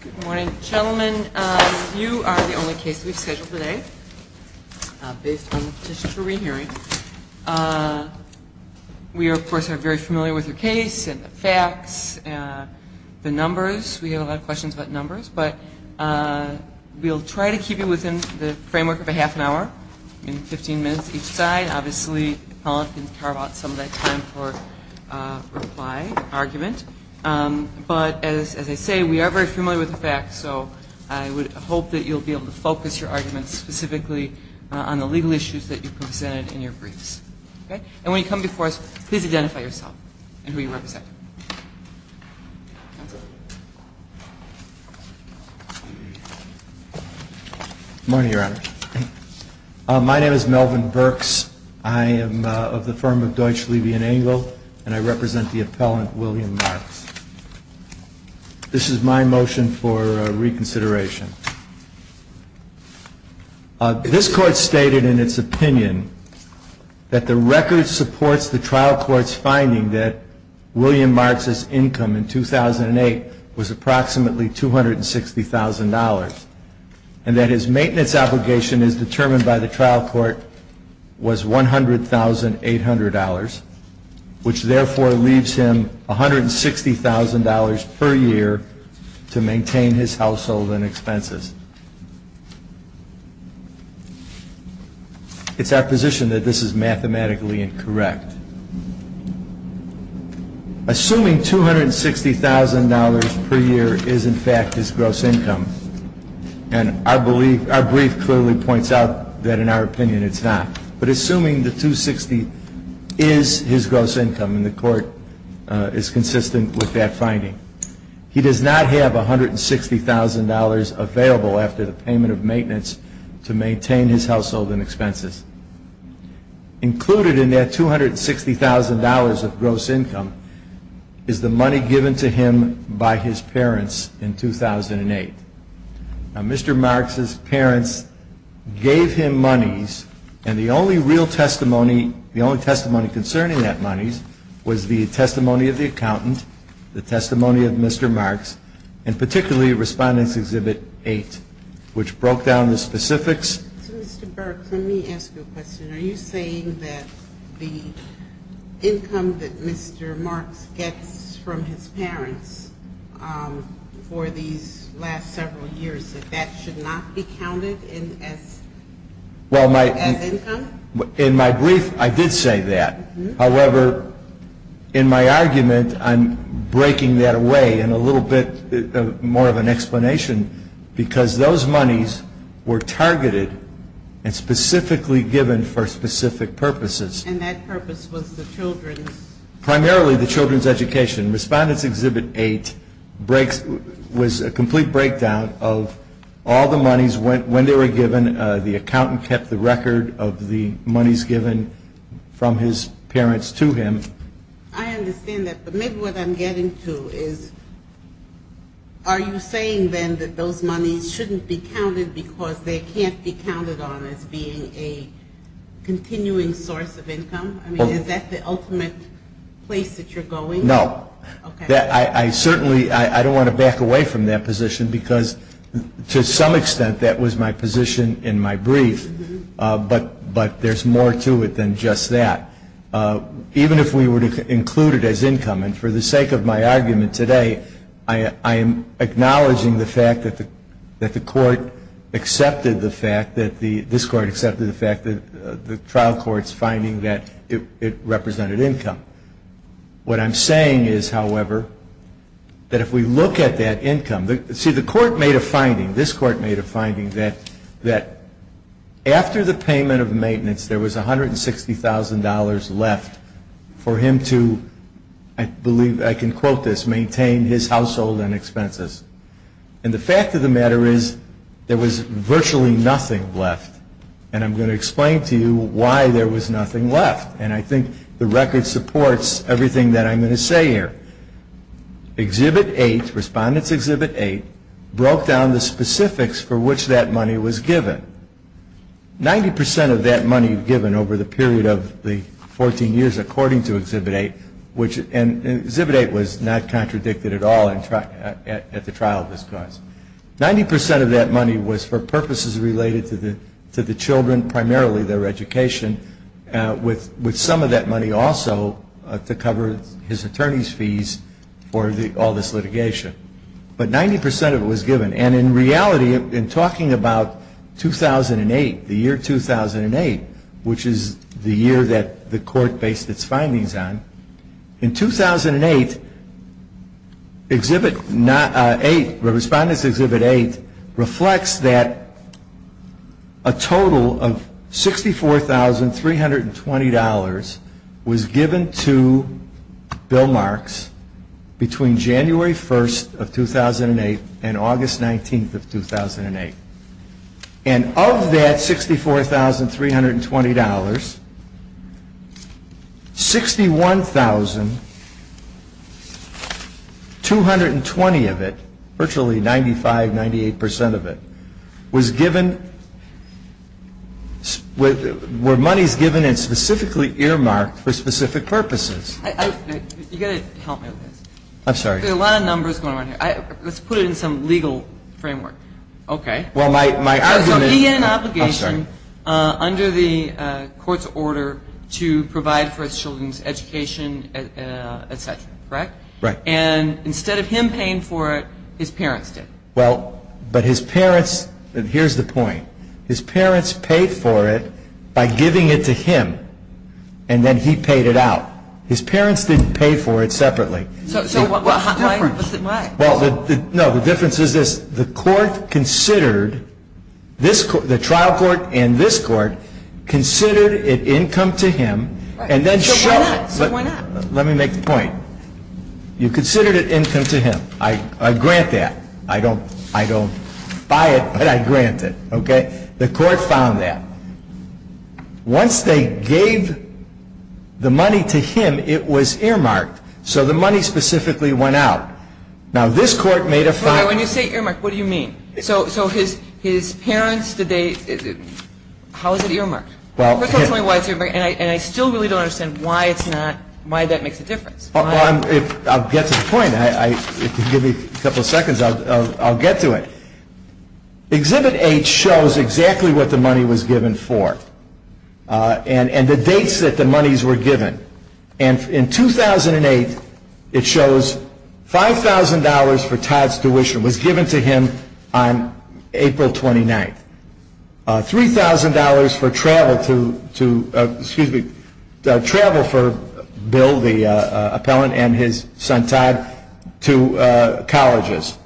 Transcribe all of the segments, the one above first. Good morning, gentlemen. You are the only case we've scheduled today based on the petition for re-hearing. We, of course, are very familiar with your case and the facts, the numbers. We have a lot of questions about numbers, but we'll try to keep you within the framework of a half an hour, maybe 15 minutes each side. Obviously, Helen can carve out some of that time for reply, argument. But as I say, we are very familiar with the facts, so I would hope that you'll be able to focus your arguments specifically on the legal issues that you presented in your briefs. And when you come before us, please identify yourself and who you represent. Good morning, Your Honor. My name is Melvin Burks. I am of the firm of Deutsch, Levy & Engel, and I represent the appellant, William Marks. This is my motion for reconsideration. This Court stated in its opinion that the record supports the trial court's finding that William Marks' income in 2008 was approximately $260,000, and that his maintenance obligation as determined by the trial court was $100,800, which therefore leaves him $160,000 per year to maintain his household and expenses. It's our position that this is mathematically incorrect. Assuming $260,000 per year is, in fact, his gross income, and our brief clearly points out that in our opinion it's not, but assuming the $260,000 is his gross income, and the Court is consistent with that finding, he does not have $160,000 available after the payment of maintenance to maintain his household and expenses. Included in that $260,000 of gross income is the money given to him by his parents in 2008. Now, Mr. Marks' parents gave him monies, and the only real testimony, the only testimony concerning that monies was the testimony of the accountant, the testimony of Mr. Marks, and particularly Respondent's Exhibit 8, which broke down the specifics. So, Mr. Burks, let me ask you a question. Are you saying that the income that Mr. Marks gets from his parents for these last several years, that that should not be counted as income? In my brief, I did say that. However, in my argument, I'm breaking that away in a little bit more of an explanation because those monies were targeted and specifically given for specific purposes. And that purpose was the children's? Primarily the children's education. Respondent's Exhibit 8 was a complete breakdown of all the monies when they were given. The accountant kept the record of the monies given from his parents to him. I understand that, but maybe what I'm getting to is, are you saying then that those monies shouldn't be counted because they can't be counted on as being a continuing source of income? I mean, is that the ultimate place that you're going? No. I certainly don't want to back away from that position because, to some extent, that was my position in my brief, but there's more to it than just that. Even if we were to include it as income, and for the sake of my argument today, I am acknowledging the fact that the court accepted the fact that the trial court's finding that it represented income. What I'm saying is, however, that if we look at that income, see, the court made a finding, this court made a finding, that after the payment of maintenance, there was $160,000 left for him to, I believe I can quote this, maintain his household and expenses. And the fact of the matter is, there was virtually nothing left. And I'm going to explain to you why there was nothing left, and I think the record supports everything that I'm going to say here. Exhibit 8, Respondent's Exhibit 8, broke down the specifics for which that money was given. Ninety percent of that money given over the period of the 14 years according to Exhibit 8, and Exhibit 8 was not contradicted at all at the trial of this cause. Ninety percent of that money was for purposes related to the children, primarily their education, with some of that money also to cover his attorney's fees for all this litigation. But 90 percent of it was given. And in reality, in talking about 2008, the year 2008, which is the year that the court based its findings on, in 2008, Exhibit 8, Respondent's Exhibit 8, reflects that a total of $64,320 was given to Bill Marks between January 1st of 2008 and August 19th of 2008. And of that $64,320, 61,220 of it, virtually 95, 98 percent of it, were monies given and specifically earmarked for specific purposes. You've got to help me with this. I'm sorry. There are a lot of numbers going on here. Let's put it in some legal framework. Okay. So he had an obligation under the court's order to provide for his children's education, et cetera, correct? Right. And instead of him paying for it, his parents did. Well, but his parents, and here's the point, his parents paid for it by giving it to him, and then he paid it out. His parents didn't pay for it separately. So what's the difference? Well, no, the difference is this. The trial court and this court considered it income to him and then showed it. So why not? Let me make the point. You considered it income to him. I grant that. I don't buy it, but I grant it. Okay? The court found that. Once they gave the money to him, it was earmarked. So the money specifically went out. Now, this court made a fine. When you say earmarked, what do you mean? So his parents, how is it earmarked? And I still really don't understand why it's not, why that makes a difference. I'll get to the point. If you give me a couple of seconds, I'll get to it. Exhibit H shows exactly what the money was given for and the dates that the monies were given. And in 2008, it shows $5,000 for Todd's tuition was given to him on April 29th. $3,000 for travel to, excuse me, travel for Bill, the appellant, and his son Todd to colleges.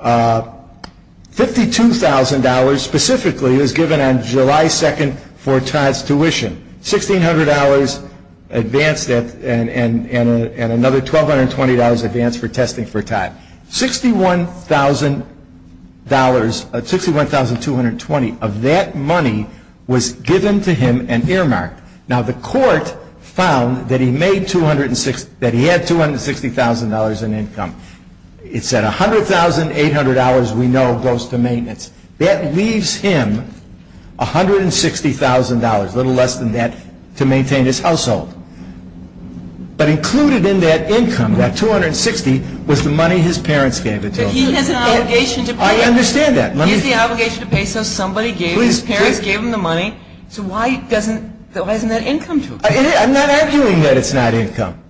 $52,000 specifically was given on July 2nd for Todd's tuition. $1,600 advance and another $1,220 advance for testing for Todd. $61,220 of that money was given to him and earmarked. Now, the court found that he had $260,000 in income. It said $100,800 we know goes to maintenance. That leaves him $160,000, a little less than that, to maintain his household. But included in that income, that $260,000, was the money his parents gave it to him. But he has an obligation to pay. I understand that. He has the obligation to pay so somebody gave him, his parents gave him the money. So why isn't that income to him? I'm not arguing that it's not income.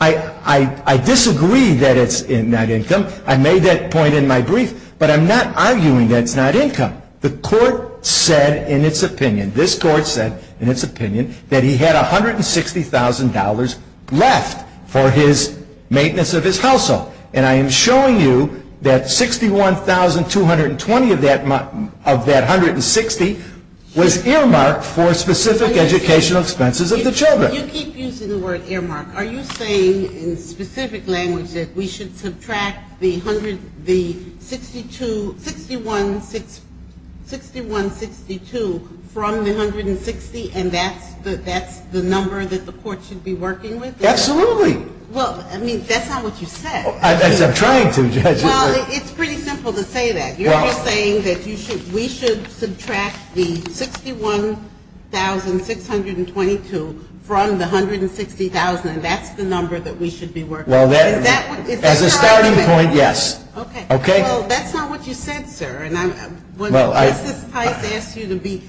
I disagree that it's not income. I made that point in my brief. But I'm not arguing that it's not income. The court said in its opinion, this court said in its opinion, that he had $160,000 left for his maintenance of his household. And I am showing you that $61,220 of that $160,000 was earmarked for specific educational expenses of the children. You keep using the word earmark. Are you saying in specific language that we should subtract the $6162 from the $160,000 and that's the number that the court should be working with? Absolutely. Well, I mean, that's not what you said. I'm trying to, Judge. Well, it's pretty simple to say that. You're just saying that we should subtract the $61,622 from the $160,000 and that's the number that we should be working with. Well, as a starting point, yes. Okay. Well, that's not what you said, sir. And when Mrs. Tice asked you to be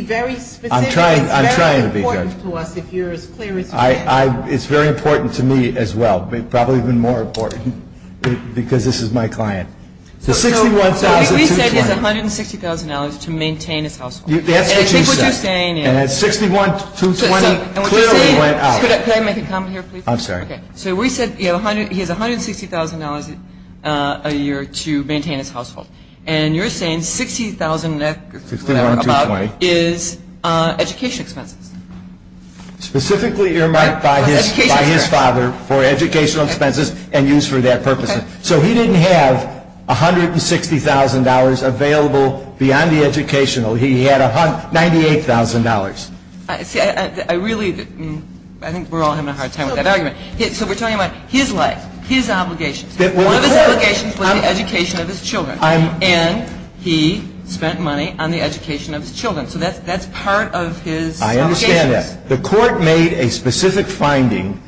very specific, it's very important to us if you're as clear as you can. It's very important to me as well. Probably even more important because this is my client. The $61,220. So what we said is $160,000 to maintain his household. That's what you said. And I think what you're saying is. And that $61,220 clearly went out. Could I make a comment here, please? I'm sorry. Okay. So we said he has $160,000 a year to maintain his household. And you're saying $60,000 is education expenses. Specifically earmarked by his father for educational expenses and used for that purpose. So he didn't have $160,000 available beyond the educational. He had $98,000. See, I really think we're all having a hard time with that argument. So we're talking about his life, his obligations. One of his obligations was the education of his children. And he spent money on the education of his children. So that's part of his obligations. I understand that. The court made a specific finding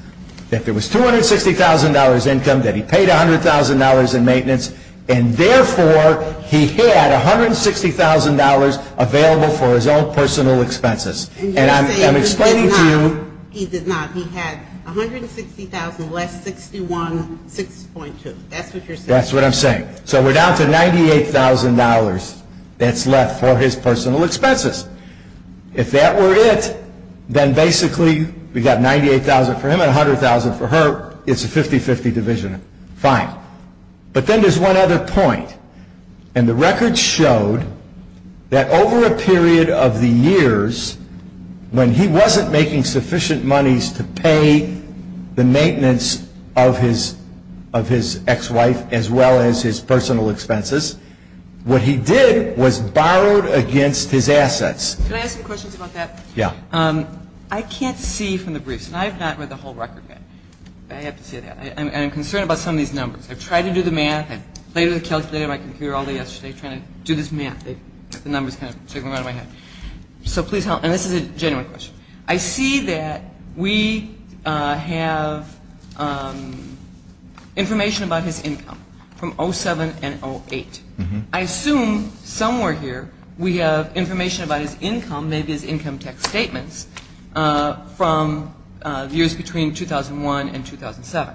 that there was $260,000 income, that he paid $100,000 in maintenance, and therefore he had $160,000 available for his own personal expenses. And I'm explaining to you. He did not. He did not. He had $160,000 less $61,620. That's what you're saying. That's what I'm saying. So we're down to $98,000 that's left for his personal expenses. If that were it, then basically we've got $98,000 for him and $100,000 for her. It's a 50-50 division. Fine. But then there's one other point. And the record showed that over a period of the years, when he wasn't making sufficient monies to pay the maintenance of his ex-wife as well as his personal expenses, what he did was borrowed against his assets. Can I ask some questions about that? Yeah. I can't see from the briefs, and I have not read the whole record yet. I have to say that. I'm concerned about some of these numbers. I've tried to do the math. I played with the calculator on my computer all day yesterday trying to do this math. The numbers kind of stick in my head. So please help. And this is a genuine question. I see that we have information about his income from 07 and 08. I assume somewhere here we have information about his income, maybe his income tax statements, from years between 2001 and 2007,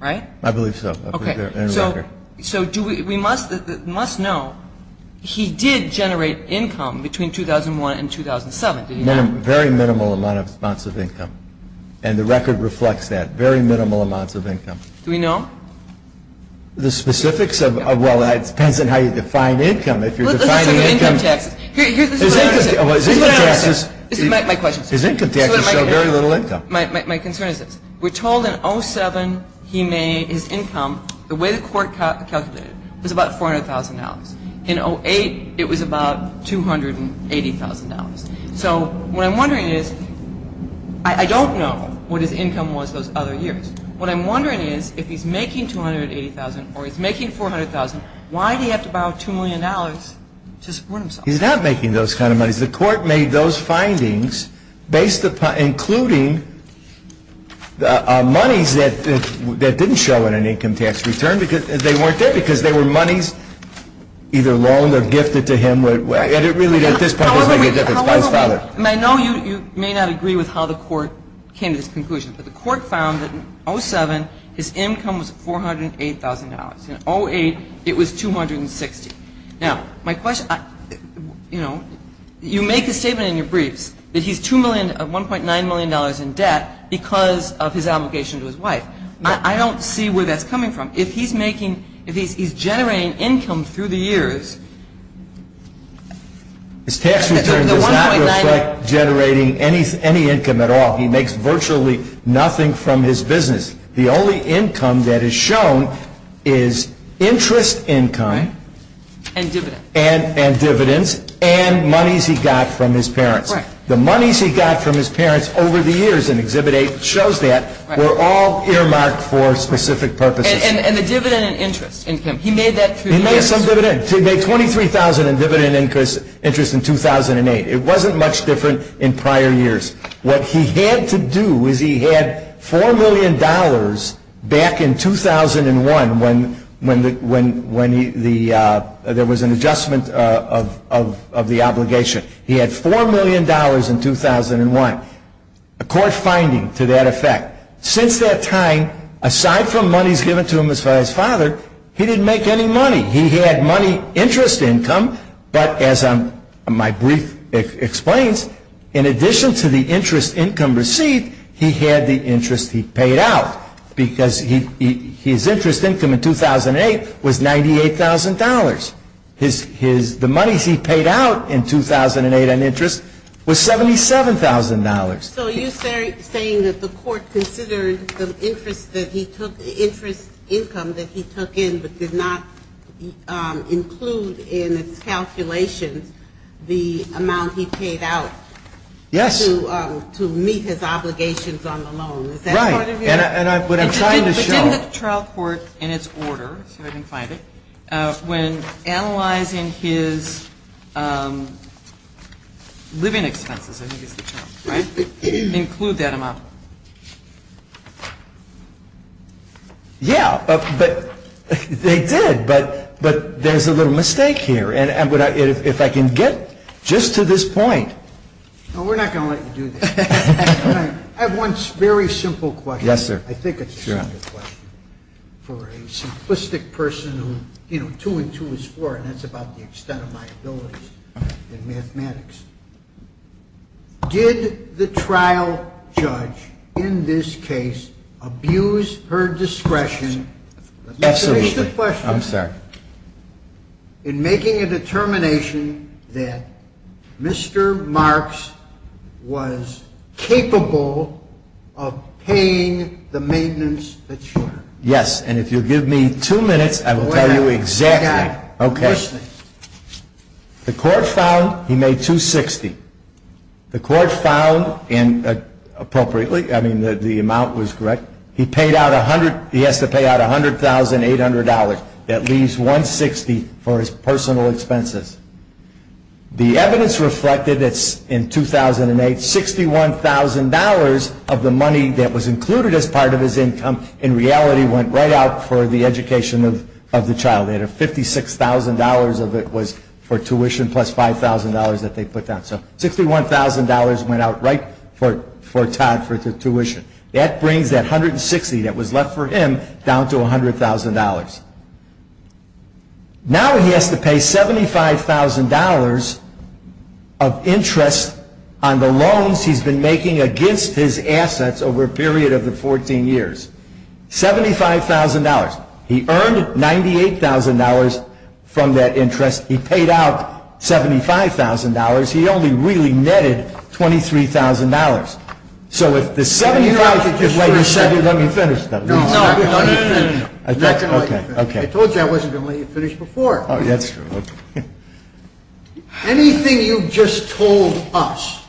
right? I believe so. Okay. So we must know he did generate income between 2001 and 2007, didn't he? Very minimal amounts of income. And the record reflects that, very minimal amounts of income. Do we know? The specifics of – well, it depends on how you define income. If you're defining income – Let's look at income taxes. This is what I understand. This is what I understand. This is my question. His income taxes show very little income. My concern is this. We're told in 07 his income, the way the court calculated it, was about $400,000. In 08 it was about $280,000. So what I'm wondering is I don't know what his income was those other years. What I'm wondering is if he's making $280,000 or he's making $400,000, why did he have to borrow $2 million to support himself? He's not making those kind of monies. The court made those findings based upon – including monies that didn't show in an income tax return. They weren't there because they were monies either loaned or gifted to him. And it really, at this point, doesn't make a difference. My father. I know you may not agree with how the court came to this conclusion, but the court found that in 07 his income was $408,000. In 08 it was $260,000. Now, my question – you make a statement in your briefs that he's $1.9 million in debt because of his obligation to his wife. I don't see where that's coming from. If he's making – if he's generating income through the years. His tax return does not reflect generating any income at all. He makes virtually nothing from his business. The only income that is shown is interest income. And dividends. And dividends and monies he got from his parents. The monies he got from his parents over the years in Exhibit 8 shows that were all earmarked for specific purposes. And the dividend and interest income. He made that through the years. He made some dividend. He made $23,000 in dividend interest in 2008. It wasn't much different in prior years. What he had to do is he had $4 million back in 2001 when there was an adjustment of the obligation. He had $4 million in 2001. A court finding to that effect. Since that time, aside from monies given to him by his father, he didn't make any money. He had money interest income. But as my brief explains, in addition to the interest income received, he had the interest he paid out. Because his interest income in 2008 was $98,000. The monies he paid out in 2008 on interest was $77,000. So you're saying that the court considered the interest income that he took in but did not include in its calculations the amount he paid out to meet his obligations on the loan. Is that part of your question? Right. And what I'm trying to show. In the trial court in its order, let's see if I can find it. When analyzing his living expenses, I think is the term, right? Include that amount. Yeah. But they did. But there's a little mistake here. And if I can get just to this point. No, we're not going to let you do this. I have one very simple question. Yes, sir. I think it's a simple question. Sure. For a simplistic person who, you know, two and two is four, and that's about the extent of my abilities in mathematics. Did the trial judge in this case abuse her discretion? Absolutely. Here's the question. I'm sorry. In making a determination that Mr. Marks was capable of paying the maintenance that you were. Yes. And if you'll give me two minutes, I will tell you exactly. Okay. I'm listening. The court found he made 260. The court found, and appropriately, I mean, the amount was correct. He has to pay out $100,800. That leaves $160,000 for his personal expenses. The evidence reflected, it's in 2008, $61,000 of the money that was included as part of his income, in reality, went right out for the education of the child. $56,000 of it was for tuition plus $5,000 that they put down. So $61,000 went out right for Todd for the tuition. That brings that $160,000 that was left for him down to $100,000. Now he has to pay $75,000 of interest on the loans he's been making against his assets over a period of the 14 years. $75,000. He earned $98,000 from that interest. He paid out $75,000. He only really netted $23,000. So if the $75,000, wait, you said you'd let me finish. No, no, no, no, no. I told you I wasn't going to let you finish before. Oh, that's true. Anything you've just told us,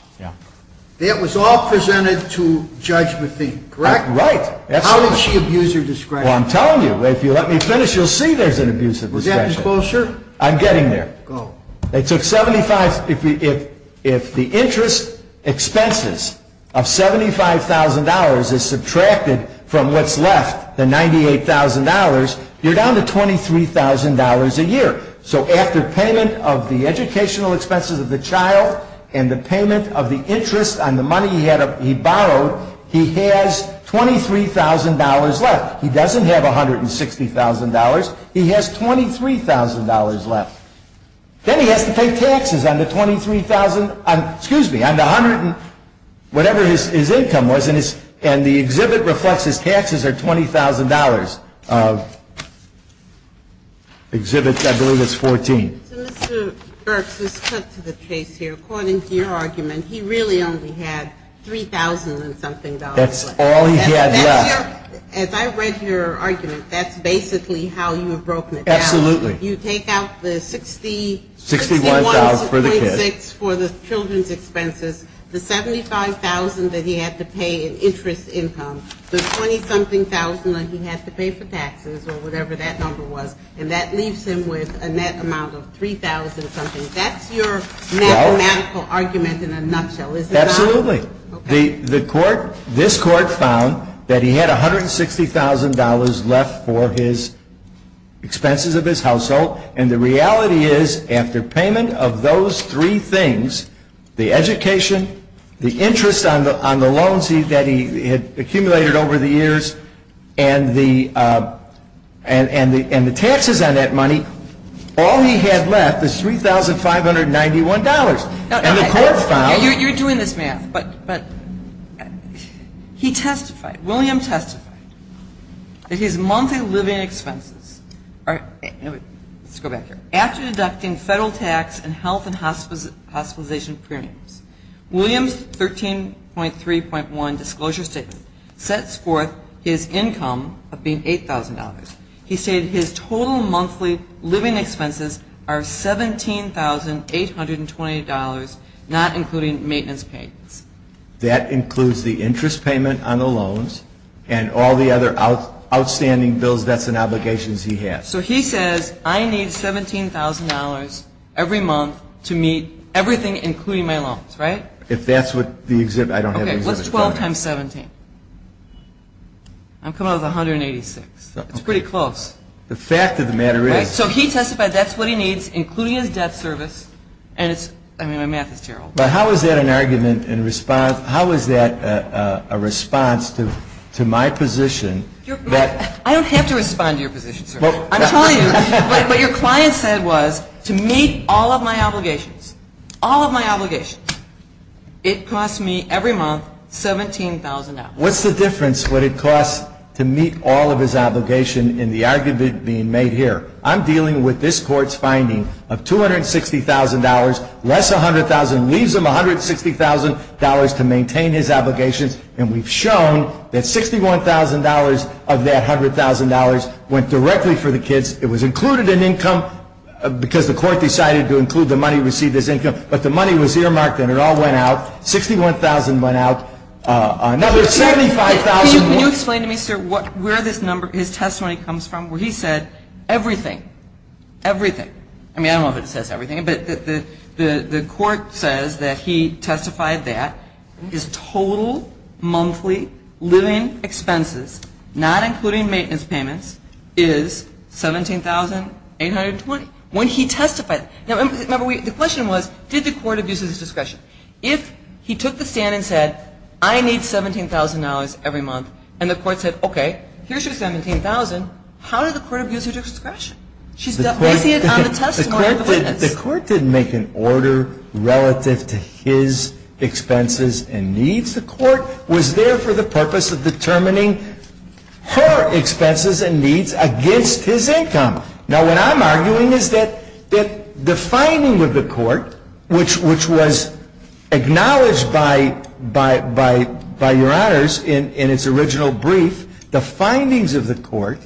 that was all presented to Judge Methink, correct? Right. How did she abuse her discretion? Well, I'm telling you, if you let me finish, you'll see there's an abuse of discretion. Was that disclosure? I'm getting there. Go. If the interest expenses of $75,000 is subtracted from what's left, the $98,000, you're down to $23,000 a year. So after payment of the educational expenses of the child and the payment of the interest on the money he borrowed, he has $23,000 left. He doesn't have $160,000. He doesn't have $200,000. He has $23,000 left. Then he has to pay taxes on the $23,000, excuse me, on the $100,000, whatever his income was, and the exhibit reflects his taxes are $20,000. Exhibit, I believe it's 14. So Mr. Burks, let's cut to the chase here. According to your argument, he really only had $3,000 and something dollars left. That's all he had left. As I read your argument, that's basically how you have broken it down. Absolutely. You take out the $61,000 for the kids, for the children's expenses, the $75,000 that he had to pay in interest income, the $20-something thousand that he had to pay for taxes or whatever that number was, and that leaves him with a net amount of $3,000 something. That's your mathematical argument in a nutshell, is it not? Absolutely. The court, this court found that he had $160,000 left for his expenses of his household, and the reality is after payment of those three things, the education, the interest on the loans that he had accumulated over the years, and the taxes on that money, all he had left was $3,591. You're doing this math, but he testified, William testified that his monthly living expenses are, let's go back here. After deducting federal tax and health and hospitalization premiums, William's 13.3.1 disclosure statement sets forth his income of being $8,000. He stated his total monthly living expenses are $17,820, not including maintenance payments. That includes the interest payment on the loans and all the other outstanding bills, debts, and obligations he had. So he says, I need $17,000 every month to meet everything including my loans, right? If that's what the exhibit, I don't have the exhibit. That's 12 times 17. I'm coming up with 186. It's pretty close. The fact of the matter is. So he testified that's what he needs, including his debt service, and it's, I mean, my math is terrible. But how is that an argument in response, how is that a response to my position? I don't have to respond to your position, sir. I'm telling you, what your client said was, to meet all of my obligations, all of my obligations, it costs me every month $17,000. What's the difference what it costs to meet all of his obligation in the argument being made here? I'm dealing with this court's finding of $260,000, less $100,000, leaves him $160,000 to maintain his obligations. And we've shown that $61,000 of that $100,000 went directly for the kids. It was included in income because the court decided to include the money received as income. But the money was earmarked and it all went out. $61,000 went out. Another $75,000. Can you explain to me, sir, where this number, his testimony comes from, where he said everything, everything. I mean, I don't know if it says everything, but the court says that he testified that his total monthly living expenses, not including maintenance payments, is $17,820. When he testified, now, remember, the question was, did the court abuse his discretion? If he took the stand and said, I need $17,000 every month, and the court said, okay, here's your $17,000, how did the court abuse her discretion? She's placing it on the testimony of the witness. The court didn't make an order relative to his expenses and needs. The court was there for the purpose of determining her expenses and needs against his income. Now, what I'm arguing is that the finding of the court, which was acknowledged by your honors in its original brief, the findings of the court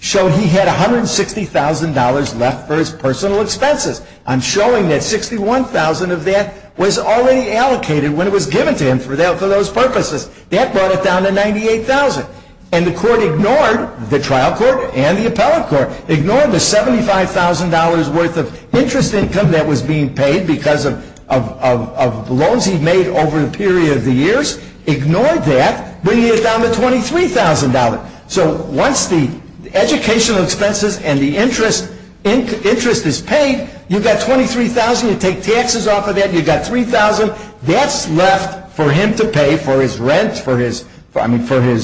show he had $160,000 left for his personal expenses. I'm showing that $61,000 of that was already allocated when it was given to him for those purposes. That brought it down to $98,000. And the court ignored, the trial court and the appellate court, ignored the $75,000 worth of interest income that was being paid because of loans he made over a period of the years, ignored that, bringing it down to $23,000. So once the educational expenses and the interest is paid, you've got $23,000. You take taxes off of that, you've got $3,000. That's left for him to pay for his rent, for his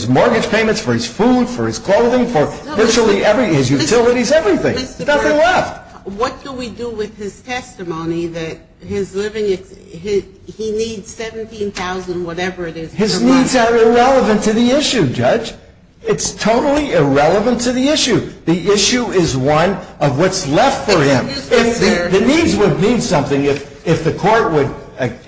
mortgage payments, for his food, for his clothing, for virtually everything. His utilities, everything. There's nothing left. What do we do with his testimony that he needs $17,000, whatever it is? His needs are irrelevant to the issue, Judge. It's totally irrelevant to the issue. The issue is one of what's left for him. The needs would mean something if the court would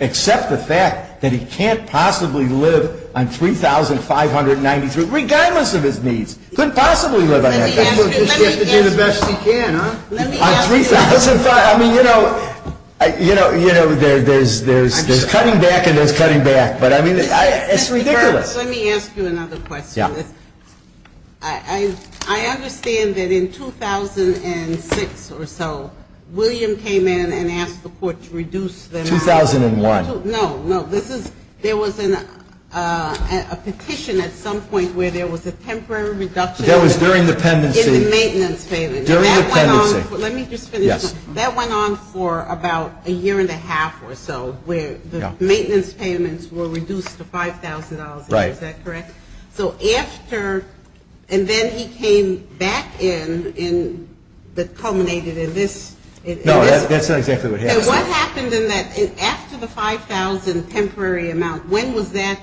accept the fact that he can't possibly live on $3,593, regardless of his needs. He couldn't possibly live on that. Let me ask you another question. On $3,593, I mean, you know, there's cutting back and there's cutting back. But I mean, it's ridiculous. Let me ask you another question. Yeah. I understand that in 2006 or so, William came in and asked the court to reduce the amount. 2001. No, no. There was a petition at some point where there was a temporary reduction. That was during the pendency. In the maintenance payment. During the pendency. Let me just finish. Yes. That went on for about a year and a half or so, where the maintenance payments were reduced to $5,000. Right. Is that correct? So after, and then he came back in, but culminated in this. No, that's not exactly what happened. What happened in that, after the $5,000 temporary amount, when was that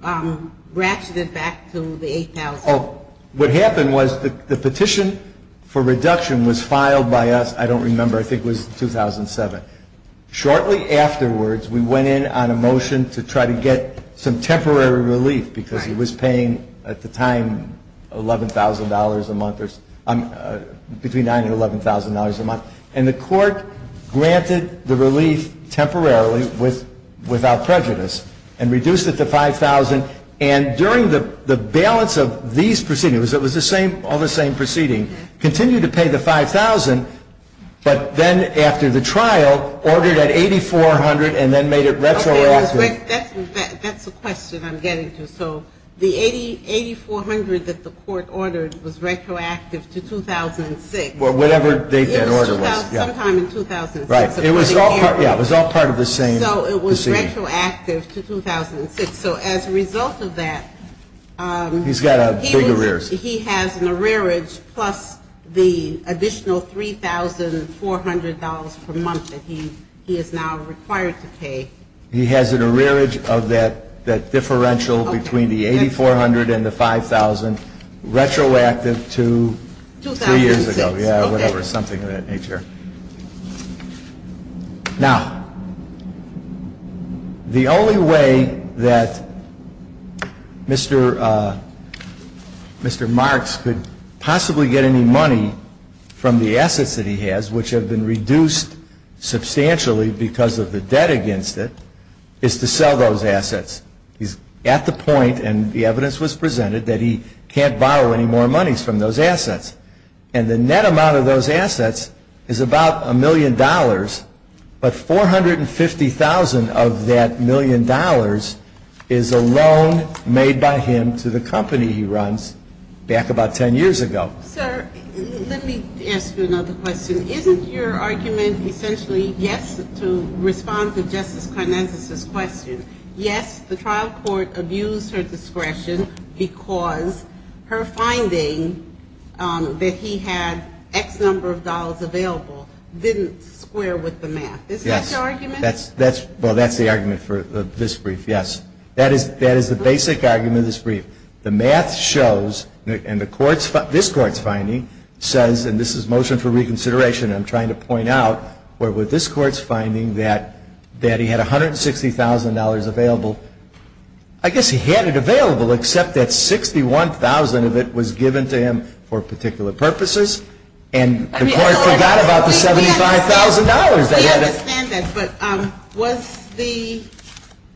ratcheted back to the $8,000? Oh, what happened was the petition for reduction was filed by us, I don't remember, I think it was 2007. Shortly afterwards, we went in on a motion to try to get some temporary relief because he was paying, at the time, $11,000 a month. Between $9,000 and $11,000 a month. And the court granted the relief temporarily without prejudice and reduced it to $5,000. And during the balance of these proceedings, it was all the same proceeding, continued to pay the $5,000. But then after the trial, ordered at $8,400 and then made it retroactive. That's a question I'm getting to. So the $8,400 that the court ordered was retroactive to 2006. Whatever date that order was. Sometime in 2006. Right. It was all part of the same. So it was retroactive to 2006. So as a result of that. He's got big arrears. He has an arrearage plus the additional $3,400 per month that he is now required to pay. He has an arrearage of that differential between the $8,400 and the $5,000 retroactive to 3 years ago. 2006. Yeah, or whatever, something of that nature. Now, the only way that Mr. Mr. Marks could possibly get any money from the assets that he has, which have been reduced substantially because of the debt against it, is to sell those assets. He's at the point, and the evidence was presented, that he can't borrow any more monies from those assets. And the net amount of those assets is about a million dollars. But $450,000 of that million dollars is a loan made by him to the company he runs back about 10 years ago. Sir, let me ask you another question. Isn't your argument essentially yes to respond to Justice Karnazes' question? Yes, the trial court abused her discretion because her finding that he had X number of dollars available didn't square with the math. Yes. Is that your argument? Well, that's the argument for this brief, yes. That is the basic argument of this brief. The math shows, and this Court's finding says, and this is motion for reconsideration, and I'm trying to point out, where this Court's finding that he had $160,000 available. I guess he had it available except that $61,000 of it was given to him for particular purposes. And the Court forgot about the $75,000. We understand that. But was the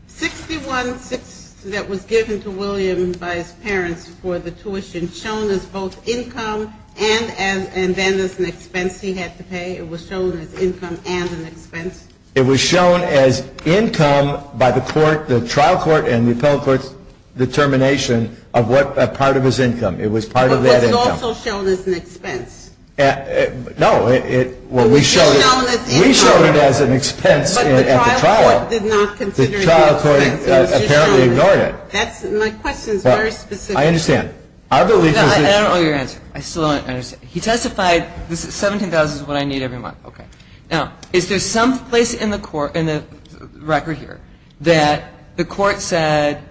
$61,000 that was given to William by his parents for the tuition shown as both income and then as an expense he had to pay? It was shown as income and an expense? It was shown as income by the trial court and the appellate court's determination of what part of his income. It was part of that income. But was it also shown as an expense? No. It was shown as income. We showed it as an expense at the trial. But the trial court did not consider it to be an expense. The trial court apparently ignored it. My question is very specific. I understand. I don't know your answer. I still don't understand. He testified, this $17,000 is what I need every month. Okay. Now, is there some place in the record here that the court said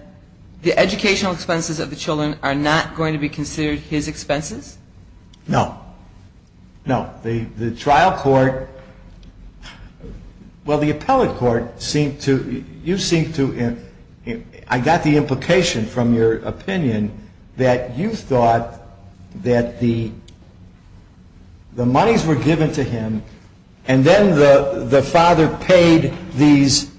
the educational expenses of the children are not going to be considered his expenses? No. No. The trial court, well, the appellate court seemed to, you seemed to, I got the implication from your opinion that you thought that the monies were given to him and then the father paid these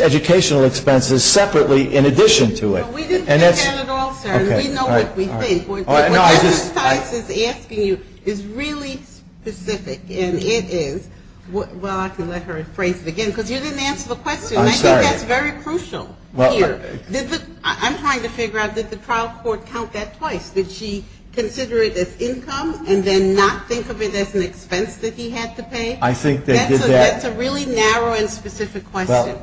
educational expenses separately in addition to it. We didn't think that at all, sir. We know what we think. What Justice Tice is asking you is really specific, and it is. Well, I can let her phrase it again because you didn't answer the question. I'm sorry. I think that's very crucial here. I'm trying to figure out, did the trial court count that twice? Did she consider it as income and then not think of it as an expense that he had to pay? I think they did that. That's a really narrow and specific question.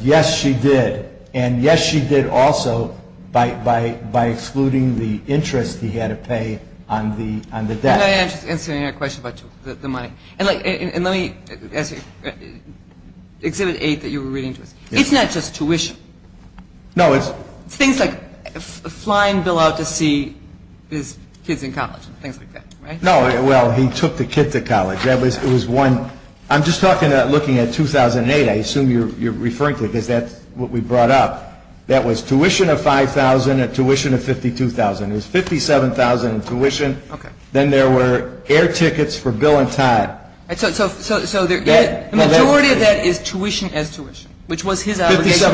Yes, she did. And yes, she did also by excluding the interest he had to pay on the debt. I'm not answering your question about the money. And let me ask you, Exhibit 8 that you were reading to us, it's not just tuition. No, it's. It's things like flying Bill out to see his kids in college and things like that, right? No, well, he took the kids to college. I'm just looking at 2008. I assume you're referring to it because that's what we brought up. That was tuition of $5,000 and tuition of $52,000. It was $57,000 in tuition. Then there were air tickets for Bill and Todd. So the majority of that is tuition as tuition, which was his obligation.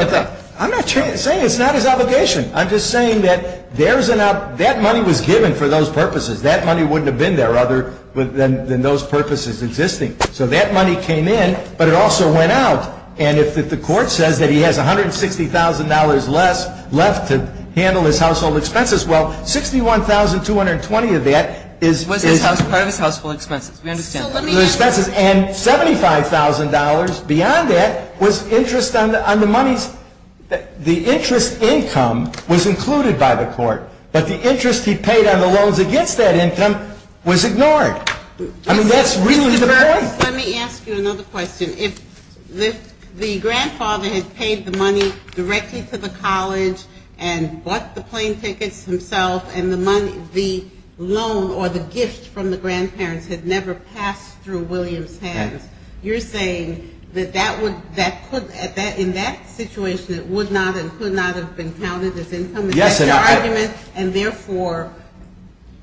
I'm not saying it's not his obligation. I'm just saying that that money was given for those purposes. That money wouldn't have been there other than those purposes existing. So that money came in, but it also went out. And if the court says that he has $160,000 less left to handle his household expenses, well, $61,220 of that is. Was part of his household expenses. We understand that. And $75,000 beyond that was interest on the money's. The interest income was included by the court. But the interest he paid on the loans against that income was ignored. I mean, that's really the point. Let me ask you another question. If the grandfather had paid the money directly to the college and bought the plane tickets himself and the loan or the gift from the grandparents had never passed through William's hands, you're saying that in that situation it would not and could not have been counted as income? Yes. And therefore,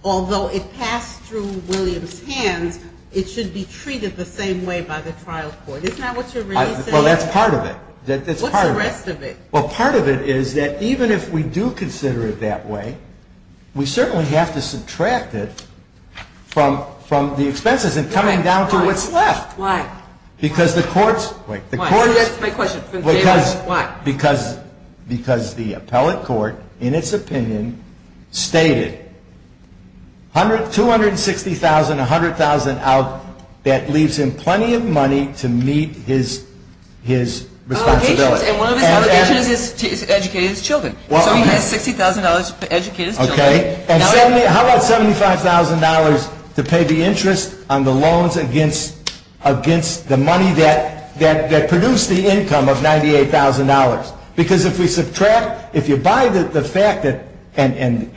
although it passed through William's hands, it should be treated the same way by the trial court. Isn't that what you're really saying? Well, that's part of it. That's part of it. What's the rest of it? Well, part of it is that even if we do consider it that way, we certainly have to subtract it from the expenses and coming down to what's left. Why? Because the courts. Wait. The courts. That's my question. Why? Because the appellate court in its opinion stated $260,000, $100,000 out, that leaves him plenty of money to meet his responsibility. And one of his obligations is to educate his children. So he has $60,000 to educate his children. Okay. How about $75,000 to pay the interest on the loans against the money that produced the income of $98,000? Because if we subtract, if you buy the fact that, and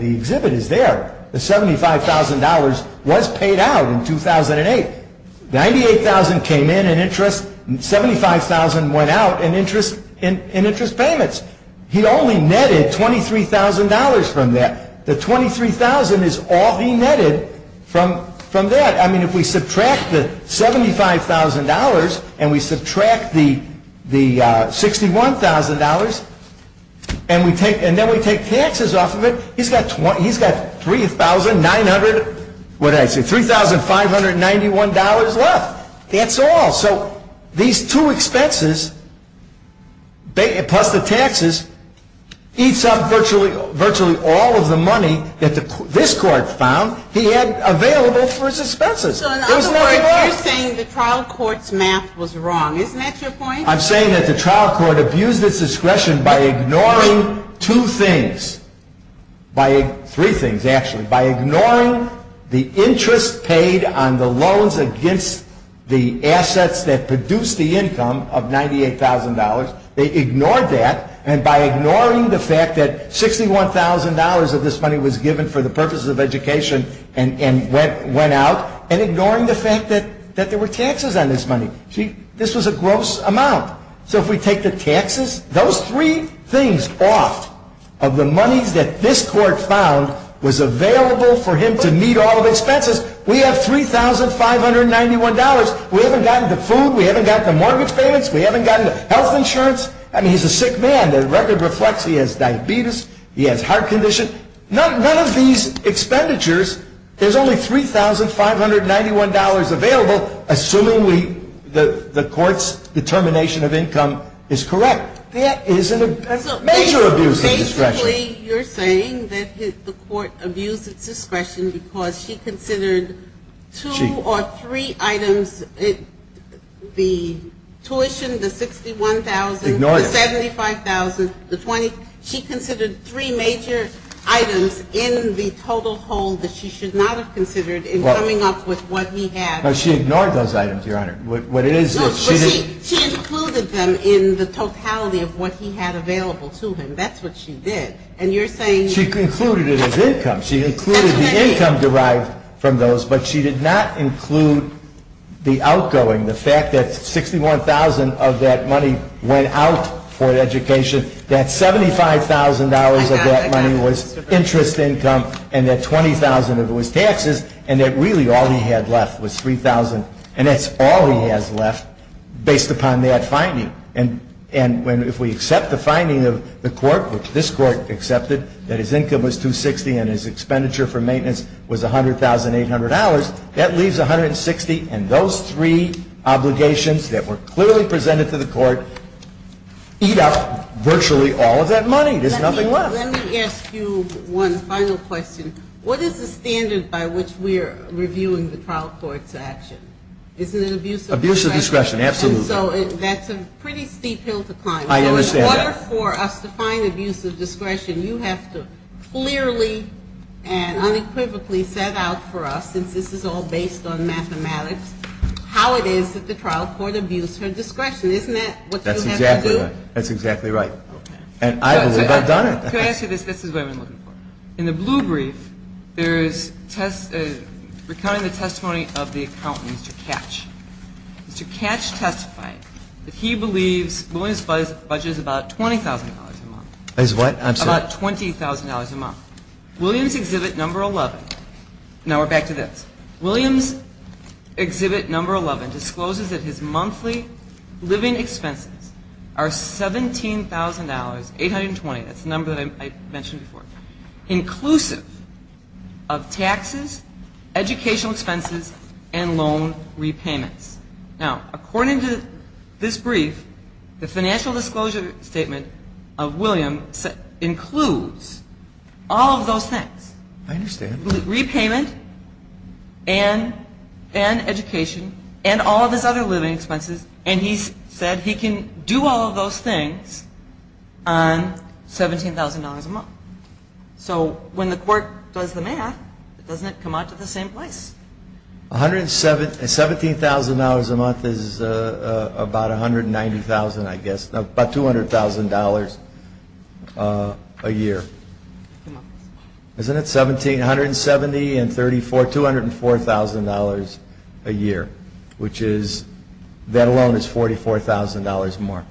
the exhibit is there, the $75,000 was paid out in 2008. $98,000 came in in interest. $75,000 went out in interest payments. He only netted $23,000 from that. The $23,000 is all he netted from that. I mean, if we subtract the $75,000 and we subtract the $61,000 and then we take taxes off of it, he's got $3,591 left. That's all. So these two expenses plus the taxes eats up virtually all of the money that this court found he had available for his expenses. So in other words, you're saying the trial court's math was wrong. Isn't that your point? I'm saying that the trial court abused its discretion by ignoring two things. Three things, actually. By ignoring the interest paid on the loans against the assets that produced the income of $98,000, they ignored that, and by ignoring the fact that $61,000 of this money was given for the purposes of education and went out, and ignoring the fact that there were taxes on this money. See, this was a gross amount. So if we take the taxes, those three things off of the monies that this court found was available for him to meet all of his expenses, we have $3,591. We haven't gotten the food. We haven't gotten the mortgage payments. We haven't gotten health insurance. I mean, he's a sick man. The record reflects he has diabetes. He has heart condition. None of these expenditures, there's only $3,591 available, assuming the court's determination of income is correct. That is a major abuse of discretion. So basically, you're saying that the court abused its discretion because she considered two or three items, the tuition, the $61,000. Ignore that. The $75,000. The $20,000. She considered three major items in the total hold that she should not have considered in coming up with what he had. No, she ignored those items, Your Honor. What it is is she didn't. No, but she included them in the totality of what he had available to him. That's what she did. And you're saying. She included it as income. She included the income derived from those, but she did not include the outgoing, the fact that $61,000 of that money went out for education. That $75,000 of that money was interest income, and that $20,000 of it was taxes, and that really all he had left was $3,000. And that's all he has left based upon that finding. And if we accept the finding of the court, which this court accepted, that his income was $260,000 and his expenditure for maintenance was $100,800, that leaves $160,000, and those three obligations that were clearly presented to the court eat up virtually all of that money. There's nothing left. Let me ask you one final question. What is the standard by which we are reviewing the trial court's action? Isn't it abuse of discretion? Abuse of discretion, absolutely. And so that's a pretty steep hill to climb. I understand that. In order for us to find abuse of discretion, you have to clearly and unequivocally set out for us, since this is all based on mathematics, how it is that the trial court abused her discretion. Isn't that what you have to do? That's exactly right. And I believe I've done it. Can I ask you this? This is what I've been looking for. In the blue brief, there is recounting the testimony of the accountant, Mr. Katch. Mr. Katch testified that he believes Williams' budget is about $20,000 a month. Is what? I'm sorry. About $20,000 a month. Williams' exhibit number 11, now we're back to this, Williams' exhibit number 11 discloses that his monthly living expenses are $17,820, that's the number that I mentioned before, inclusive of taxes, educational expenses, and loan repayments. Now, according to this brief, the financial disclosure statement of Williams includes all of those things. I understand. Repayment and education and all of his other living expenses. And he said he can do all of those things on $17,000 a month. So when the court does the math, doesn't it come out to the same place? $17,000 a month is about $190,000, I guess, about $200,000 a year. Isn't it? $1,770 and $204,000 a year, which is, that alone is $44,000 more.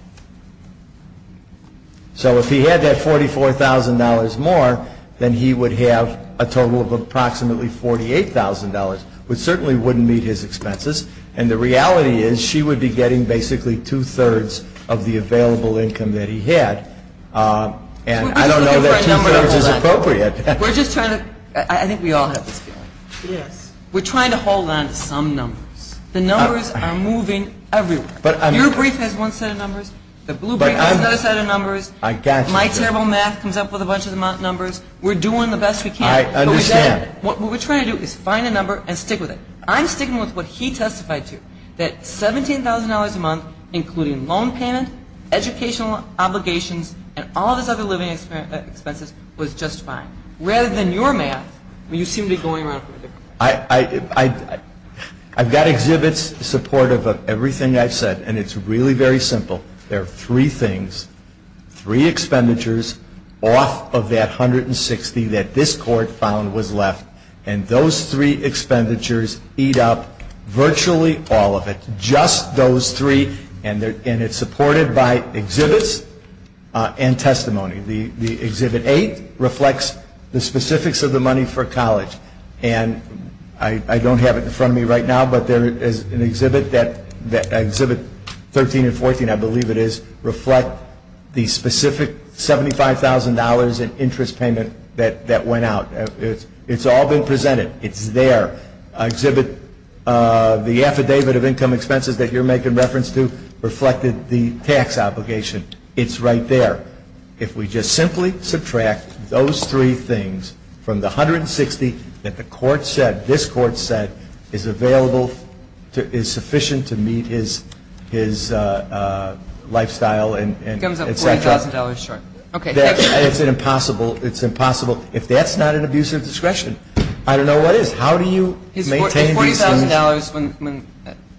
So if he had that $44,000 more, then he would have a total of approximately $48,000, which certainly wouldn't meet his expenses, and the reality is she would be getting basically two-thirds of the available income that he had. And I don't know that two-thirds is appropriate. We're just trying to – I think we all have this feeling. Yes. We're trying to hold on to some numbers. The numbers are moving everywhere. Your brief has one set of numbers. The blue brief has another set of numbers. My terrible math comes up with a bunch of numbers. We're doing the best we can. I understand. What we're trying to do is find a number and stick with it. I'm sticking with what he testified to, that $17,000 a month, including loan payment, educational obligations, and all of his other living expenses, was just fine. Rather than your math, you seem to be going around. I've got exhibits supportive of everything I've said, and it's really very simple. There are three things, three expenditures off of that $160,000 that this Court found was left, and those three expenditures eat up virtually all of it, just those three, and it's supported by exhibits and testimony. The Exhibit 8 reflects the specifics of the money for college, and I don't have it in front of me right now, but there is an exhibit that – Exhibit 13 and 14, I believe it is, reflect the specific $75,000 in interest payment that went out. It's all been presented. It's there. Exhibit – the Affidavit of Income Expenses that you're making reference to reflected the tax obligation. It's right there. If we just simply subtract those three things from the $160,000 that the Court said, this Court said, is available, is sufficient to meet his lifestyle and etc. It comes up $40,000 short. It's impossible. It's impossible. If that's not an abuse of discretion, I don't know what is. How do you maintain these conditions? $40,000 when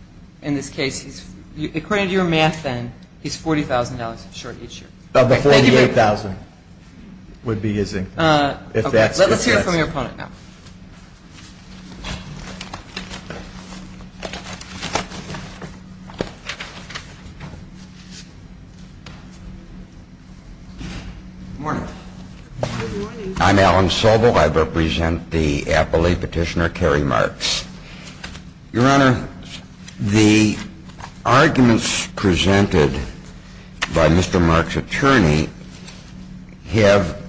– in this case, according to your math then, he's $40,000 short each year. Of the $48,000 would be his income. Let's hear it from your opponent now. Good morning. I'm Alan Sobel. I represent the Appellate Petitioner, Carey Marks. Your Honor, the arguments presented by Mr. Marks' attorney have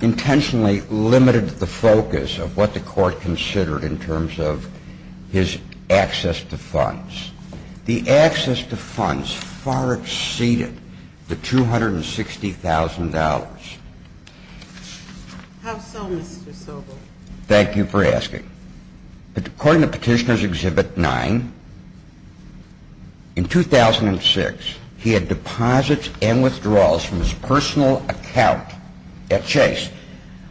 intentionally limited the focus of what the Court considered in terms of his access to funds. The access to funds far exceeded the $260,000. How so, Mr. Sobel? Thank you for asking. According to Petitioner's Exhibit 9, in 2006, he had deposits and withdrawals from his personal account at Chase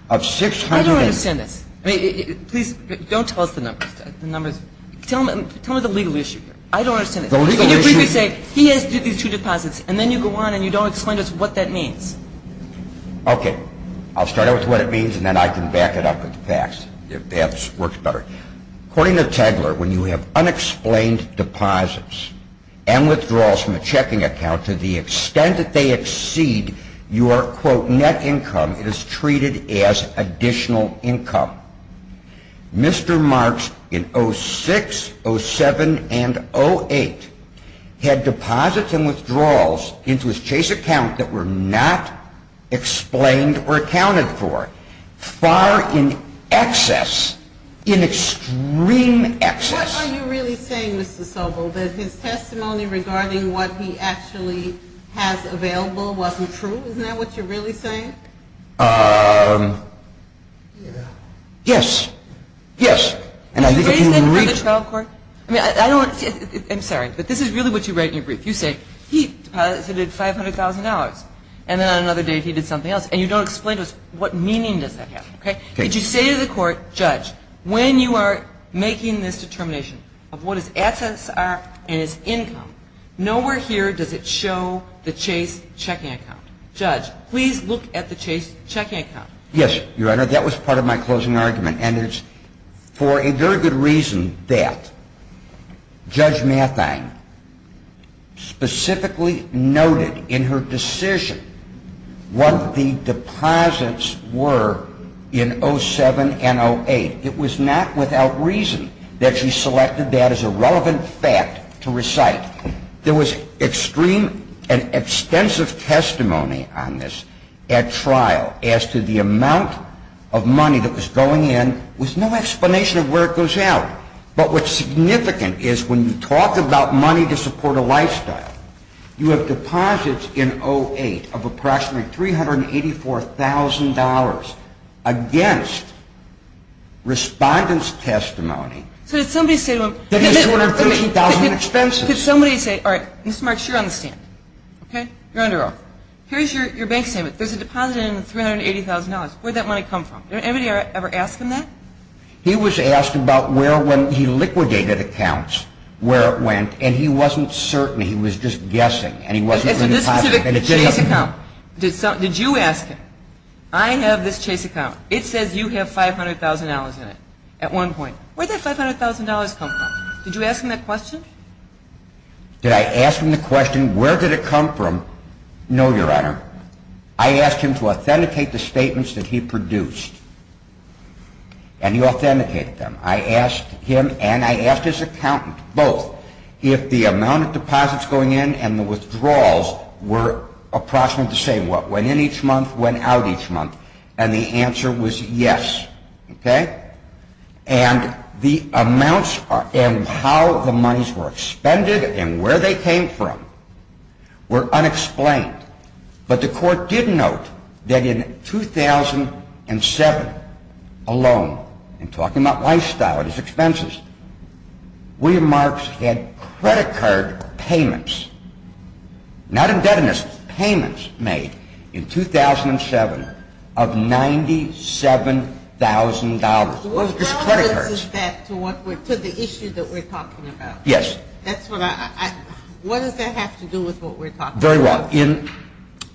of $680,000. I don't understand this. Please, don't tell us the numbers. Tell me the legal issue here. I don't understand this. Can you briefly say, he has these two deposits, and then you go on and you don't explain to us what that means. Okay. I'll start out with what it means and then I can back it up with the facts, if that works better. According to Tegeler, when you have unexplained deposits and withdrawals from a checking account to the extent that they exceed your, quote, net income, it is treated as additional income. Mr. Marks, in 06, 07, and 08, had deposits and withdrawals into his Chase account that were not explained or accounted for, far in excess, in extreme excess. What are you really saying, Mr. Sobel, that his testimony regarding what he actually has available wasn't true? Isn't that what you're really saying? Yes. Yes. And I think if you read the trial court, I mean, I don't, I'm sorry, but this is really what you write in your brief. You say, he deposited $500,000, and then on another day he did something else, and you don't explain to us what meaning does that have. Okay. If you say to the court, judge, when you are making this determination of what his assets are and his income, nowhere here does it show the Chase checking account. Judge, please look at the Chase checking account. Yes, Your Honor, that was part of my closing argument, and it's for a very good reason that Judge Mathine specifically noted in her decision what the deposits were in 07 and 08. It was not without reason that she selected that as a relevant fact to recite. There was extreme and extensive testimony on this at trial as to the amount of money that was going in with no explanation of where it goes out. But what's significant is when you talk about money to support a lifestyle, you have deposits in 08 of approximately $384,000 against respondent's testimony. That is $230,000 in expenses. Could somebody say, all right, Mr. Marks, you're on the stand, okay? You're under offer. Here's your bank statement. There's a deposit in $380,000. Where did that money come from? Did anybody ever ask him that? He was asked about where, when he liquidated accounts, where it went, and he wasn't certain. He was just guessing, and he wasn't really positive. It's a specific Chase account. Did you ask him, I have this Chase account. It says you have $500,000 in it at one point. Where did that $500,000 come from? Did you ask him that question? Did I ask him the question, where did it come from? No, Your Honor. I asked him to authenticate the statements that he produced, and he authenticated them. I asked him and I asked his accountant both if the amount of deposits going in and the withdrawals were approximately the same, what, went in each month, went out each month, and the answer was yes, okay? And the amounts and how the monies were expended and where they came from were unexplained. But the court did note that in 2007 alone, and talking about lifestyle and his expenses, William Marks had credit card payments, not indebtedness, payments made in 2007 of $97,000. What does that have to do with what we're talking about? Yes. What does that have to do with what we're talking about? Very well. In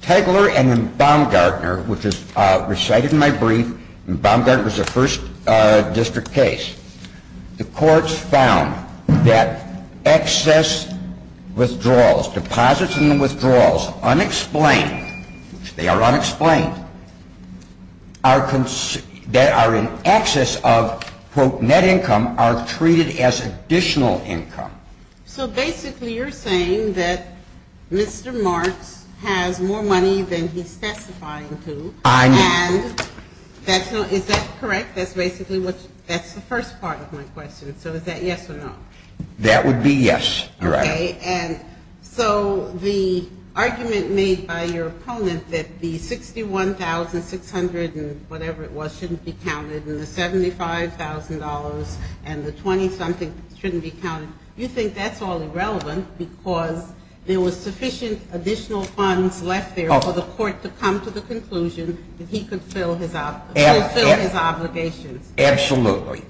Tegeler and Baumgartner, which is recited in my brief, and Baumgartner was the first district case, the courts found that excess withdrawals, deposits and withdrawals unexplained, they are unexplained, that are in excess of, quote, net income are treated as additional income. So basically you're saying that Mr. Marks has more money than he's testifying to. I know. And is that correct? That's the first part of my question. So is that yes or no? That would be yes. Okay. And so the argument made by your opponent that the $61,600 and whatever it was shouldn't be counted and the $75,000 and the 20-something shouldn't be counted, you think that's all irrelevant because there was sufficient additional funds left there for the court to come to the conclusion that he could fulfill his obligations. Absolutely.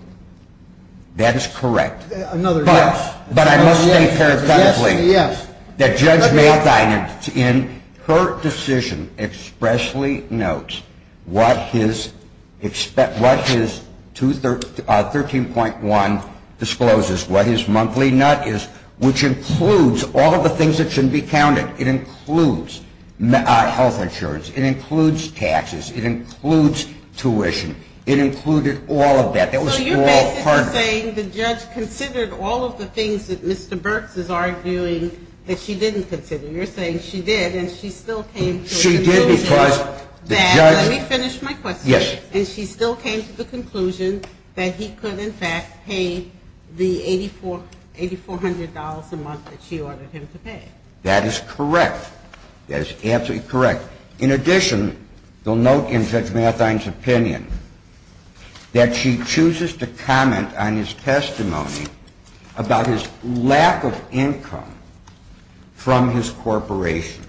That is correct. Another yes. But I must state parenthetically that Judge Mayne, in her decision, expressly notes what his 13.1 discloses, what his monthly nut is, which includes all of the things that shouldn't be counted. It includes health insurance. It includes taxes. It includes tuition. It included all of that. That was all part of it. So you're basically saying the judge considered all of the things that Mr. Burks is arguing that she didn't consider. You're saying she did and she still came to the conclusion that let me finish my question. Yes. And she still came to the conclusion that he could, in fact, pay the $8,400 a month that she ordered him to pay. That is correct. That is absolutely correct. In addition, you'll note in Judge Marthein's opinion that she chooses to comment on his testimony about his lack of income from his corporation.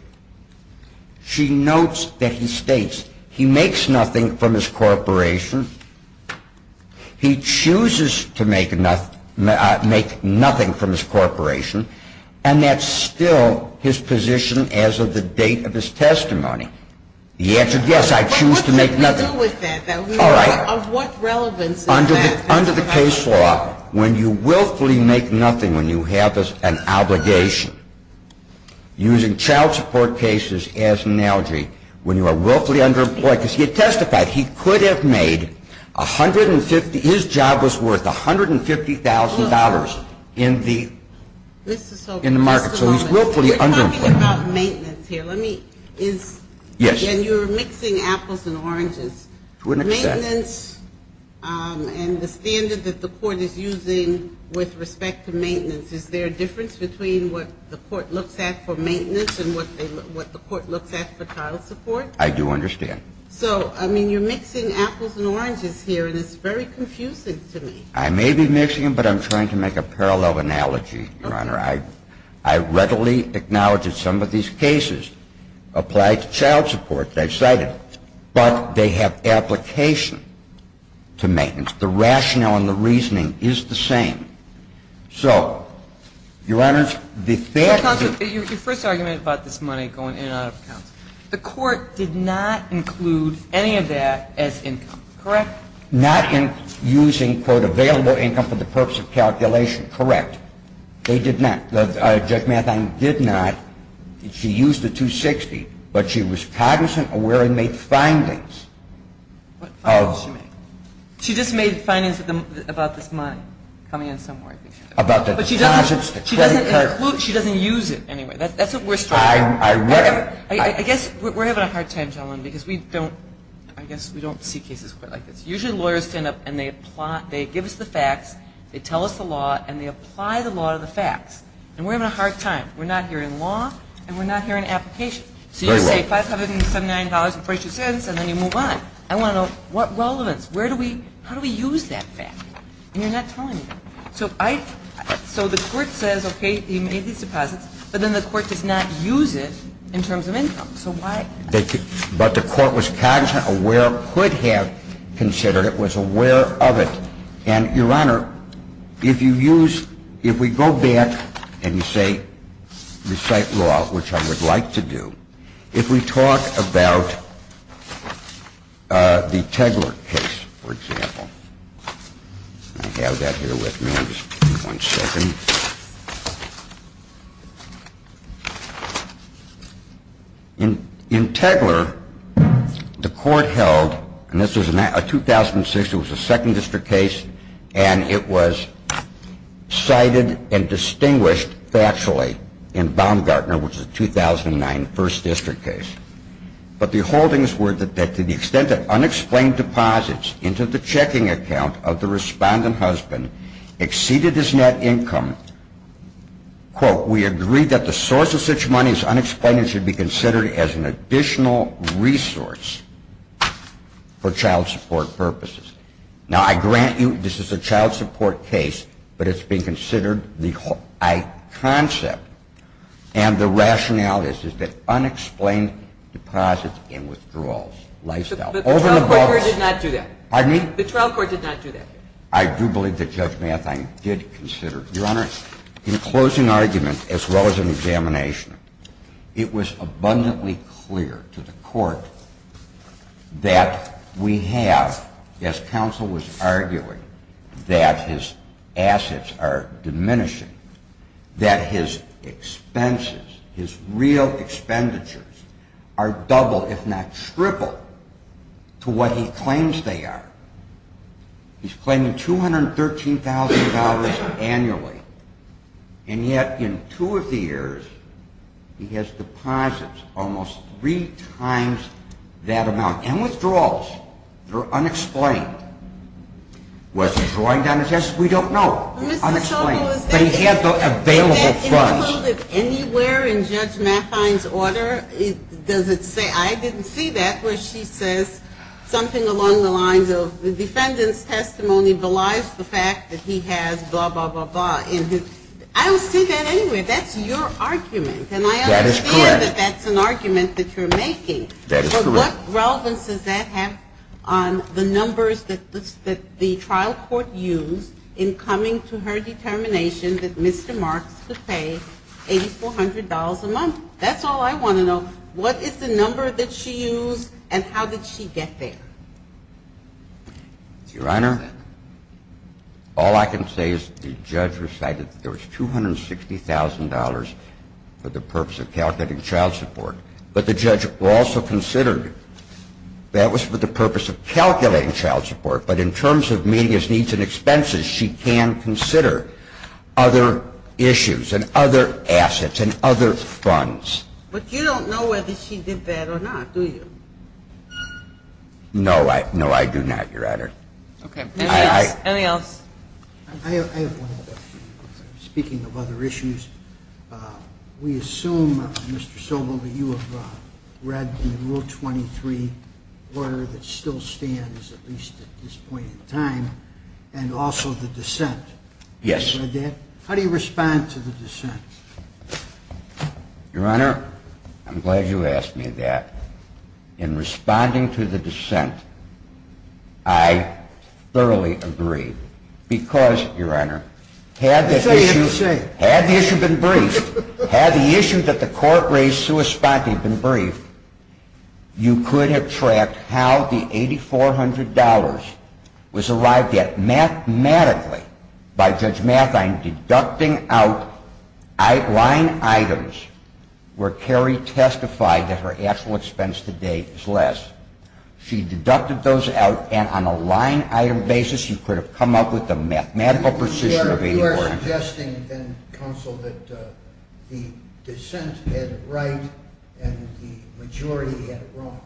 She notes that he states he makes nothing from his corporation, he chooses to make nothing from his corporation, and that's still his position as of the date of his testimony. The answer is yes, I choose to make nothing. What did we do with that? All right. Of what relevance is that? Under the case law, when you willfully make nothing, when you have an obligation, using child support cases as an analogy, when you are willfully underemployed, because he had testified he could have made 150, his job was worth $150,000 in the market. So he's willfully underemployed. We're talking about maintenance here. Let me – is – Yes. And you're mixing apples and oranges. To an extent. Maintenance and the standard that the Court is using with respect to maintenance, is there a difference between what the Court looks at for maintenance and what the Court looks at for child support? I do understand. So, I mean, you're mixing apples and oranges here, and it's very confusing to me. I may be mixing them, but I'm trying to make a parallel analogy, Your Honor. I readily acknowledge that some of these cases apply to child support that I've cited, but they have application to maintenance. The rationale and the reasoning is the same. So, Your Honor, the fact that the – Counsel, your first argument about this money going in and out of accounts, the Court did not include any of that as income, correct? Not in using, quote, available income for the purpose of calculation, correct. They did not. Judge Mathine did not. She used the 260, but she was cognizant of where it made findings. What findings did she make? She just made findings about this money coming in somewhere, I think she said. About the deposits, the credit card. She doesn't include – she doesn't use it anyway. That's what we're struggling with. I read it. I guess we're having a hard time, gentlemen, because we don't – I guess we don't see cases quite like this. Usually lawyers stand up and they give us the facts, they tell us the law, and they apply the law to the facts. And we're having a hard time. We're not hearing law, and we're not hearing application. So you say $579.42, and then you move on. I want to know what relevance. Where do we – how do we use that fact? And you're not telling me. So I – so the Court says, okay, you made these deposits, but then the Court does not use it in terms of income. So why – But the Court was cognizant, aware, could have considered it, was aware of it. And, Your Honor, if you use – if we go back and you say recite law, which I would like to do, if we talk about the Tegeler case, for example. I have that here with me. Just one second. In Tegeler, the Court held – and this was a 2006, it was a 2nd District case, and it was cited and distinguished factually in Baumgartner, which is a 2009 1st District case. But the holdings were that to the extent that unexplained deposits into the checking account of the respondent husband exceeded his net income, quote, we agree that the source of such money is unexplained and should be considered as an additional resource for child support purposes. Now, I grant you this is a child support case, but it's been considered the high concept. And the rationality is that unexplained deposits and withdrawals, lifestyle. But the trial court did not do that. Pardon me? The trial court did not do that. I do believe that Judge Mathine did consider it. Your Honor, in closing argument, as well as in examination, it was abundantly clear to the Court that we have, as counsel was arguing, that his assets are diminishing, that his expenses, his real expenditures, are double, if not triple, to what he claims they are. He's claiming $213,000 annually, and yet in two of the years he has deposits almost three times that amount. And withdrawals, they're unexplained. Was he drawing down his assets? We don't know. They're unexplained. But he had the available funds. Was that included anywhere in Judge Mathine's order? Does it say? I didn't see that where she says something along the lines of, the defendant's testimony belies the fact that he has blah, blah, blah, blah. I don't see that anywhere. That's your argument. That is correct. And I understand that that's an argument that you're making. That is correct. But what relevance does that have on the numbers that the trial court used in coming to her determination that Mr. Marks could pay $8,400 a month? That's all I want to know. What is the number that she used, and how did she get there? Your Honor, all I can say is the judge recited that there was $260,000 for the purpose of calculating child support. But the judge also considered that was for the purpose of calculating child support. But in terms of media's needs and expenses, she can consider other issues and other assets and other funds. But you don't know whether she did that or not, do you? No, I do not, Your Honor. Okay. Anything else? I have one other question. Speaking of other issues, we assume, Mr. Sobel, that you have read the Rule 23 order that still stands at least at this point in time, and also the dissent. Yes. How do you respond to the dissent? Your Honor, I'm glad you asked me that. In responding to the dissent, I thoroughly agree. Because, Your Honor, had the issue been briefed, had the issue that the court raised been briefed, you could have tracked how the $8,400 was arrived at mathematically by Judge Mathine deducting out line items where Carrie testified that her actual expense to date is less. She deducted those out, and on a line item basis, you could have come up with a mathematical precision of $8,400. You are suggesting, then, Counsel, that the dissent had it right and the majority had it wrong.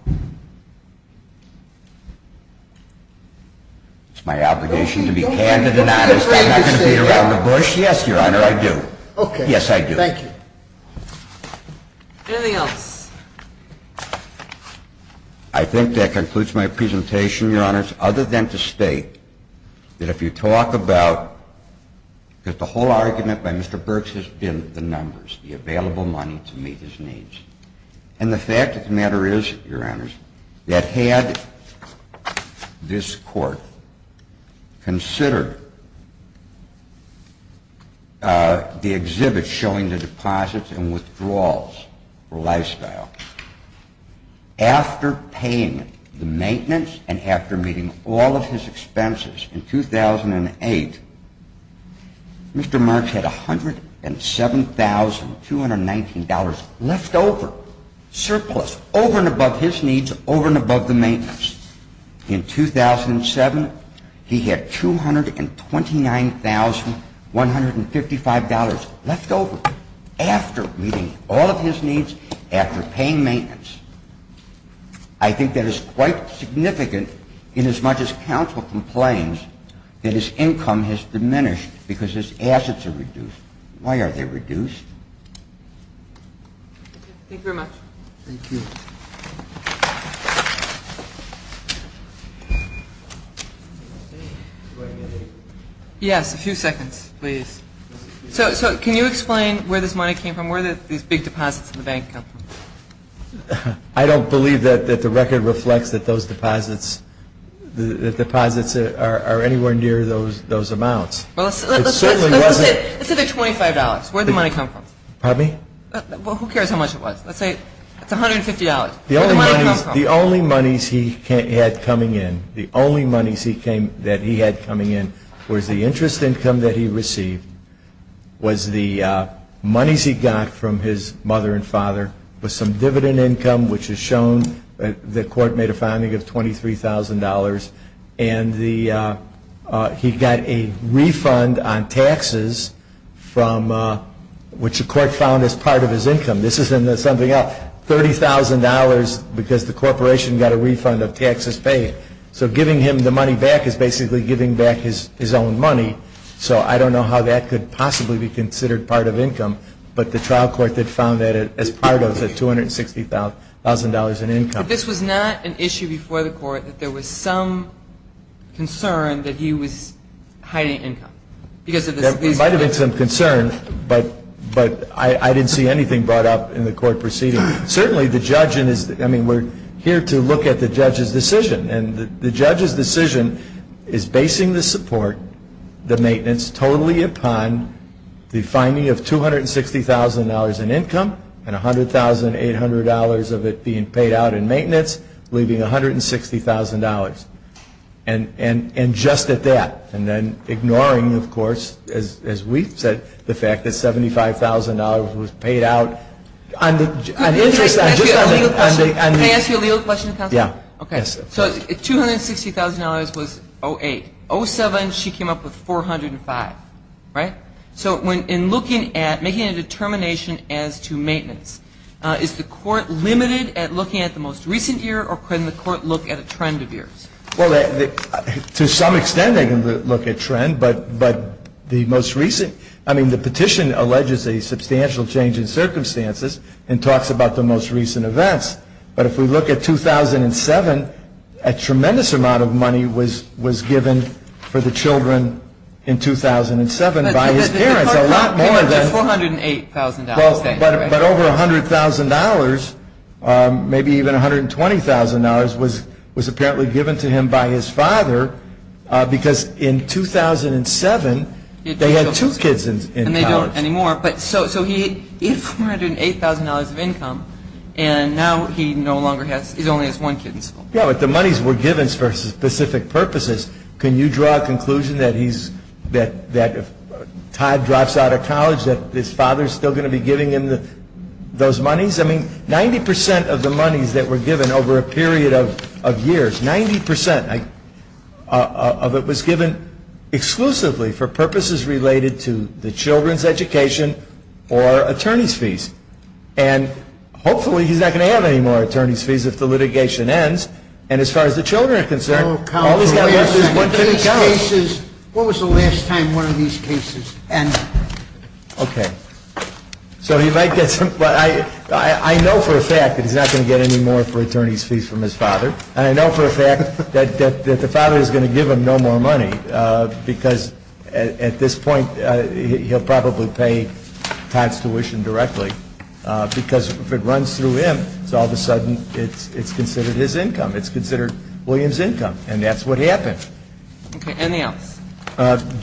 It's my obligation to be candid and honest. I'm not going to beat around the bush. Yes, Your Honor, I do. Okay. Yes, I do. Thank you. Anything else? I think that concludes my presentation, Your Honors, other than to state that if you talk about, because the whole argument by Mr. Burks has been the numbers, the available money to meet his needs. And the fact of the matter is, Your Honor, that had this court consider the exhibit showing the deposits and withdrawals for lifestyle, after paying the maintenance and after meeting all of his expenses in 2008, Mr. Burks had $107,219 left over, surplus, over and above his needs, over and above the maintenance. In 2007, he had $229,155 left over, after meeting all of his needs, after paying maintenance. I think that is quite significant inasmuch as Counsel complains that his income has diminished because his assets are reduced. Why are they reduced? Thank you very much. Thank you. Yes, a few seconds, please. So can you explain where this money came from? Where did these big deposits in the bank come from? I don't believe that the record reflects that those deposits are anywhere near those amounts. It certainly wasn't. Let's say they're $25. Where did the money come from? Pardon me? Well, who cares how much it was? Let's say it's $150. Where did the money come from? The only monies he had coming in, the only monies that he had coming in, was the interest income that he received, was the monies he got from his mother and father, was some dividend income, which is shown. The court made a finding of $23,000. And he got a refund on taxes, which the court found as part of his income. This isn't something else. $30,000 because the corporation got a refund of taxes paid. So giving him the money back is basically giving back his own money. So I don't know how that could possibly be considered part of income, but the trial court did found that as part of it, $260,000 in income. But this was not an issue before the court, that there was some concern that he was hiding income. There might have been some concern, but I didn't see anything brought up in the court proceeding. Certainly the judge, I mean, we're here to look at the judge's decision. And the judge's decision is basing the support, the maintenance, totally upon the finding of $260,000 in income and $100,800 of it being paid out in maintenance, leaving $160,000. And just at that. And then ignoring, of course, as we've said, the fact that $75,000 was paid out. Can I ask you a legal question, counsel? Yeah. Okay. So $260,000 was 08. 07, she came up with 405, right? So in looking at, making a determination as to maintenance, is the court limited at looking at the most recent year, or can the court look at a trend of years? Well, to some extent they can look at trend. But the most recent, I mean, the petition alleges a substantial change in circumstances and talks about the most recent events. But if we look at 2007, a tremendous amount of money was given for the children in 2007. It was given by his parents, a lot more than. It was $408,000. But over $100,000, maybe even $120,000, was apparently given to him by his father, because in 2007 they had two kids in college. And they don't anymore. So he had $408,000 of income, and now he no longer has, he only has one kid in school. Yeah, but the monies were given for specific purposes. Can you draw a conclusion that he's, that if Todd drops out of college, that his father's still going to be giving him those monies? I mean, 90% of the monies that were given over a period of years, 90% of it was given exclusively for purposes related to the children's education or attorney's fees. And hopefully he's not going to have any more attorney's fees if the litigation ends. And as far as the children are concerned, what was the last time one of these cases ended? Okay. So he might get some, but I know for a fact that he's not going to get any more for attorney's fees from his father. And I know for a fact that the father is going to give him no more money, because at this point he'll probably pay Todd's tuition directly, because if it runs through him, it's all of a sudden, it's considered his income. It's considered William's income. And that's what happened. Okay. Anything else?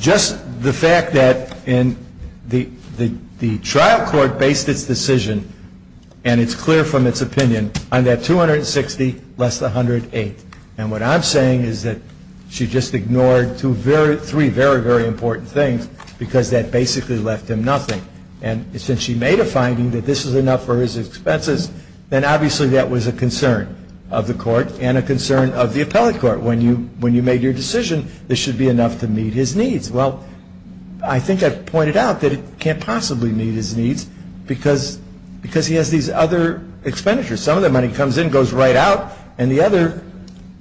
Just the fact that the trial court based its decision, and it's clear from its opinion, on that $260,000, less $108,000. And what I'm saying is that she just ignored three very, very important things, because that basically left him nothing. And since she made a finding that this is enough for his expenses, then obviously that was a concern of the court and a concern of the appellate court. When you made your decision, this should be enough to meet his needs. Well, I think I've pointed out that it can't possibly meet his needs, because he has these other expenditures. Some of the money comes in, goes right out, and the other,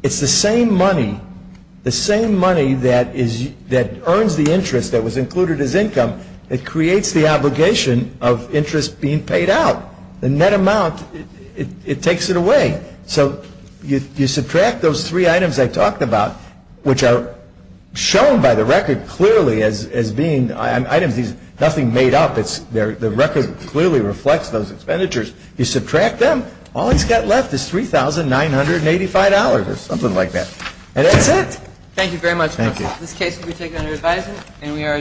it's the same money, the same money that earns the interest that was included as income, that creates the obligation of interest being paid out. The net amount, it takes it away. So you subtract those three items I talked about, which are shown by the record clearly as being items, nothing made up. The record clearly reflects those expenditures. You subtract them, all he's got left is $3,985 or something like that. And that's it. Thank you very much. Thank you. This case will be taken under advisement, and we are adjourned.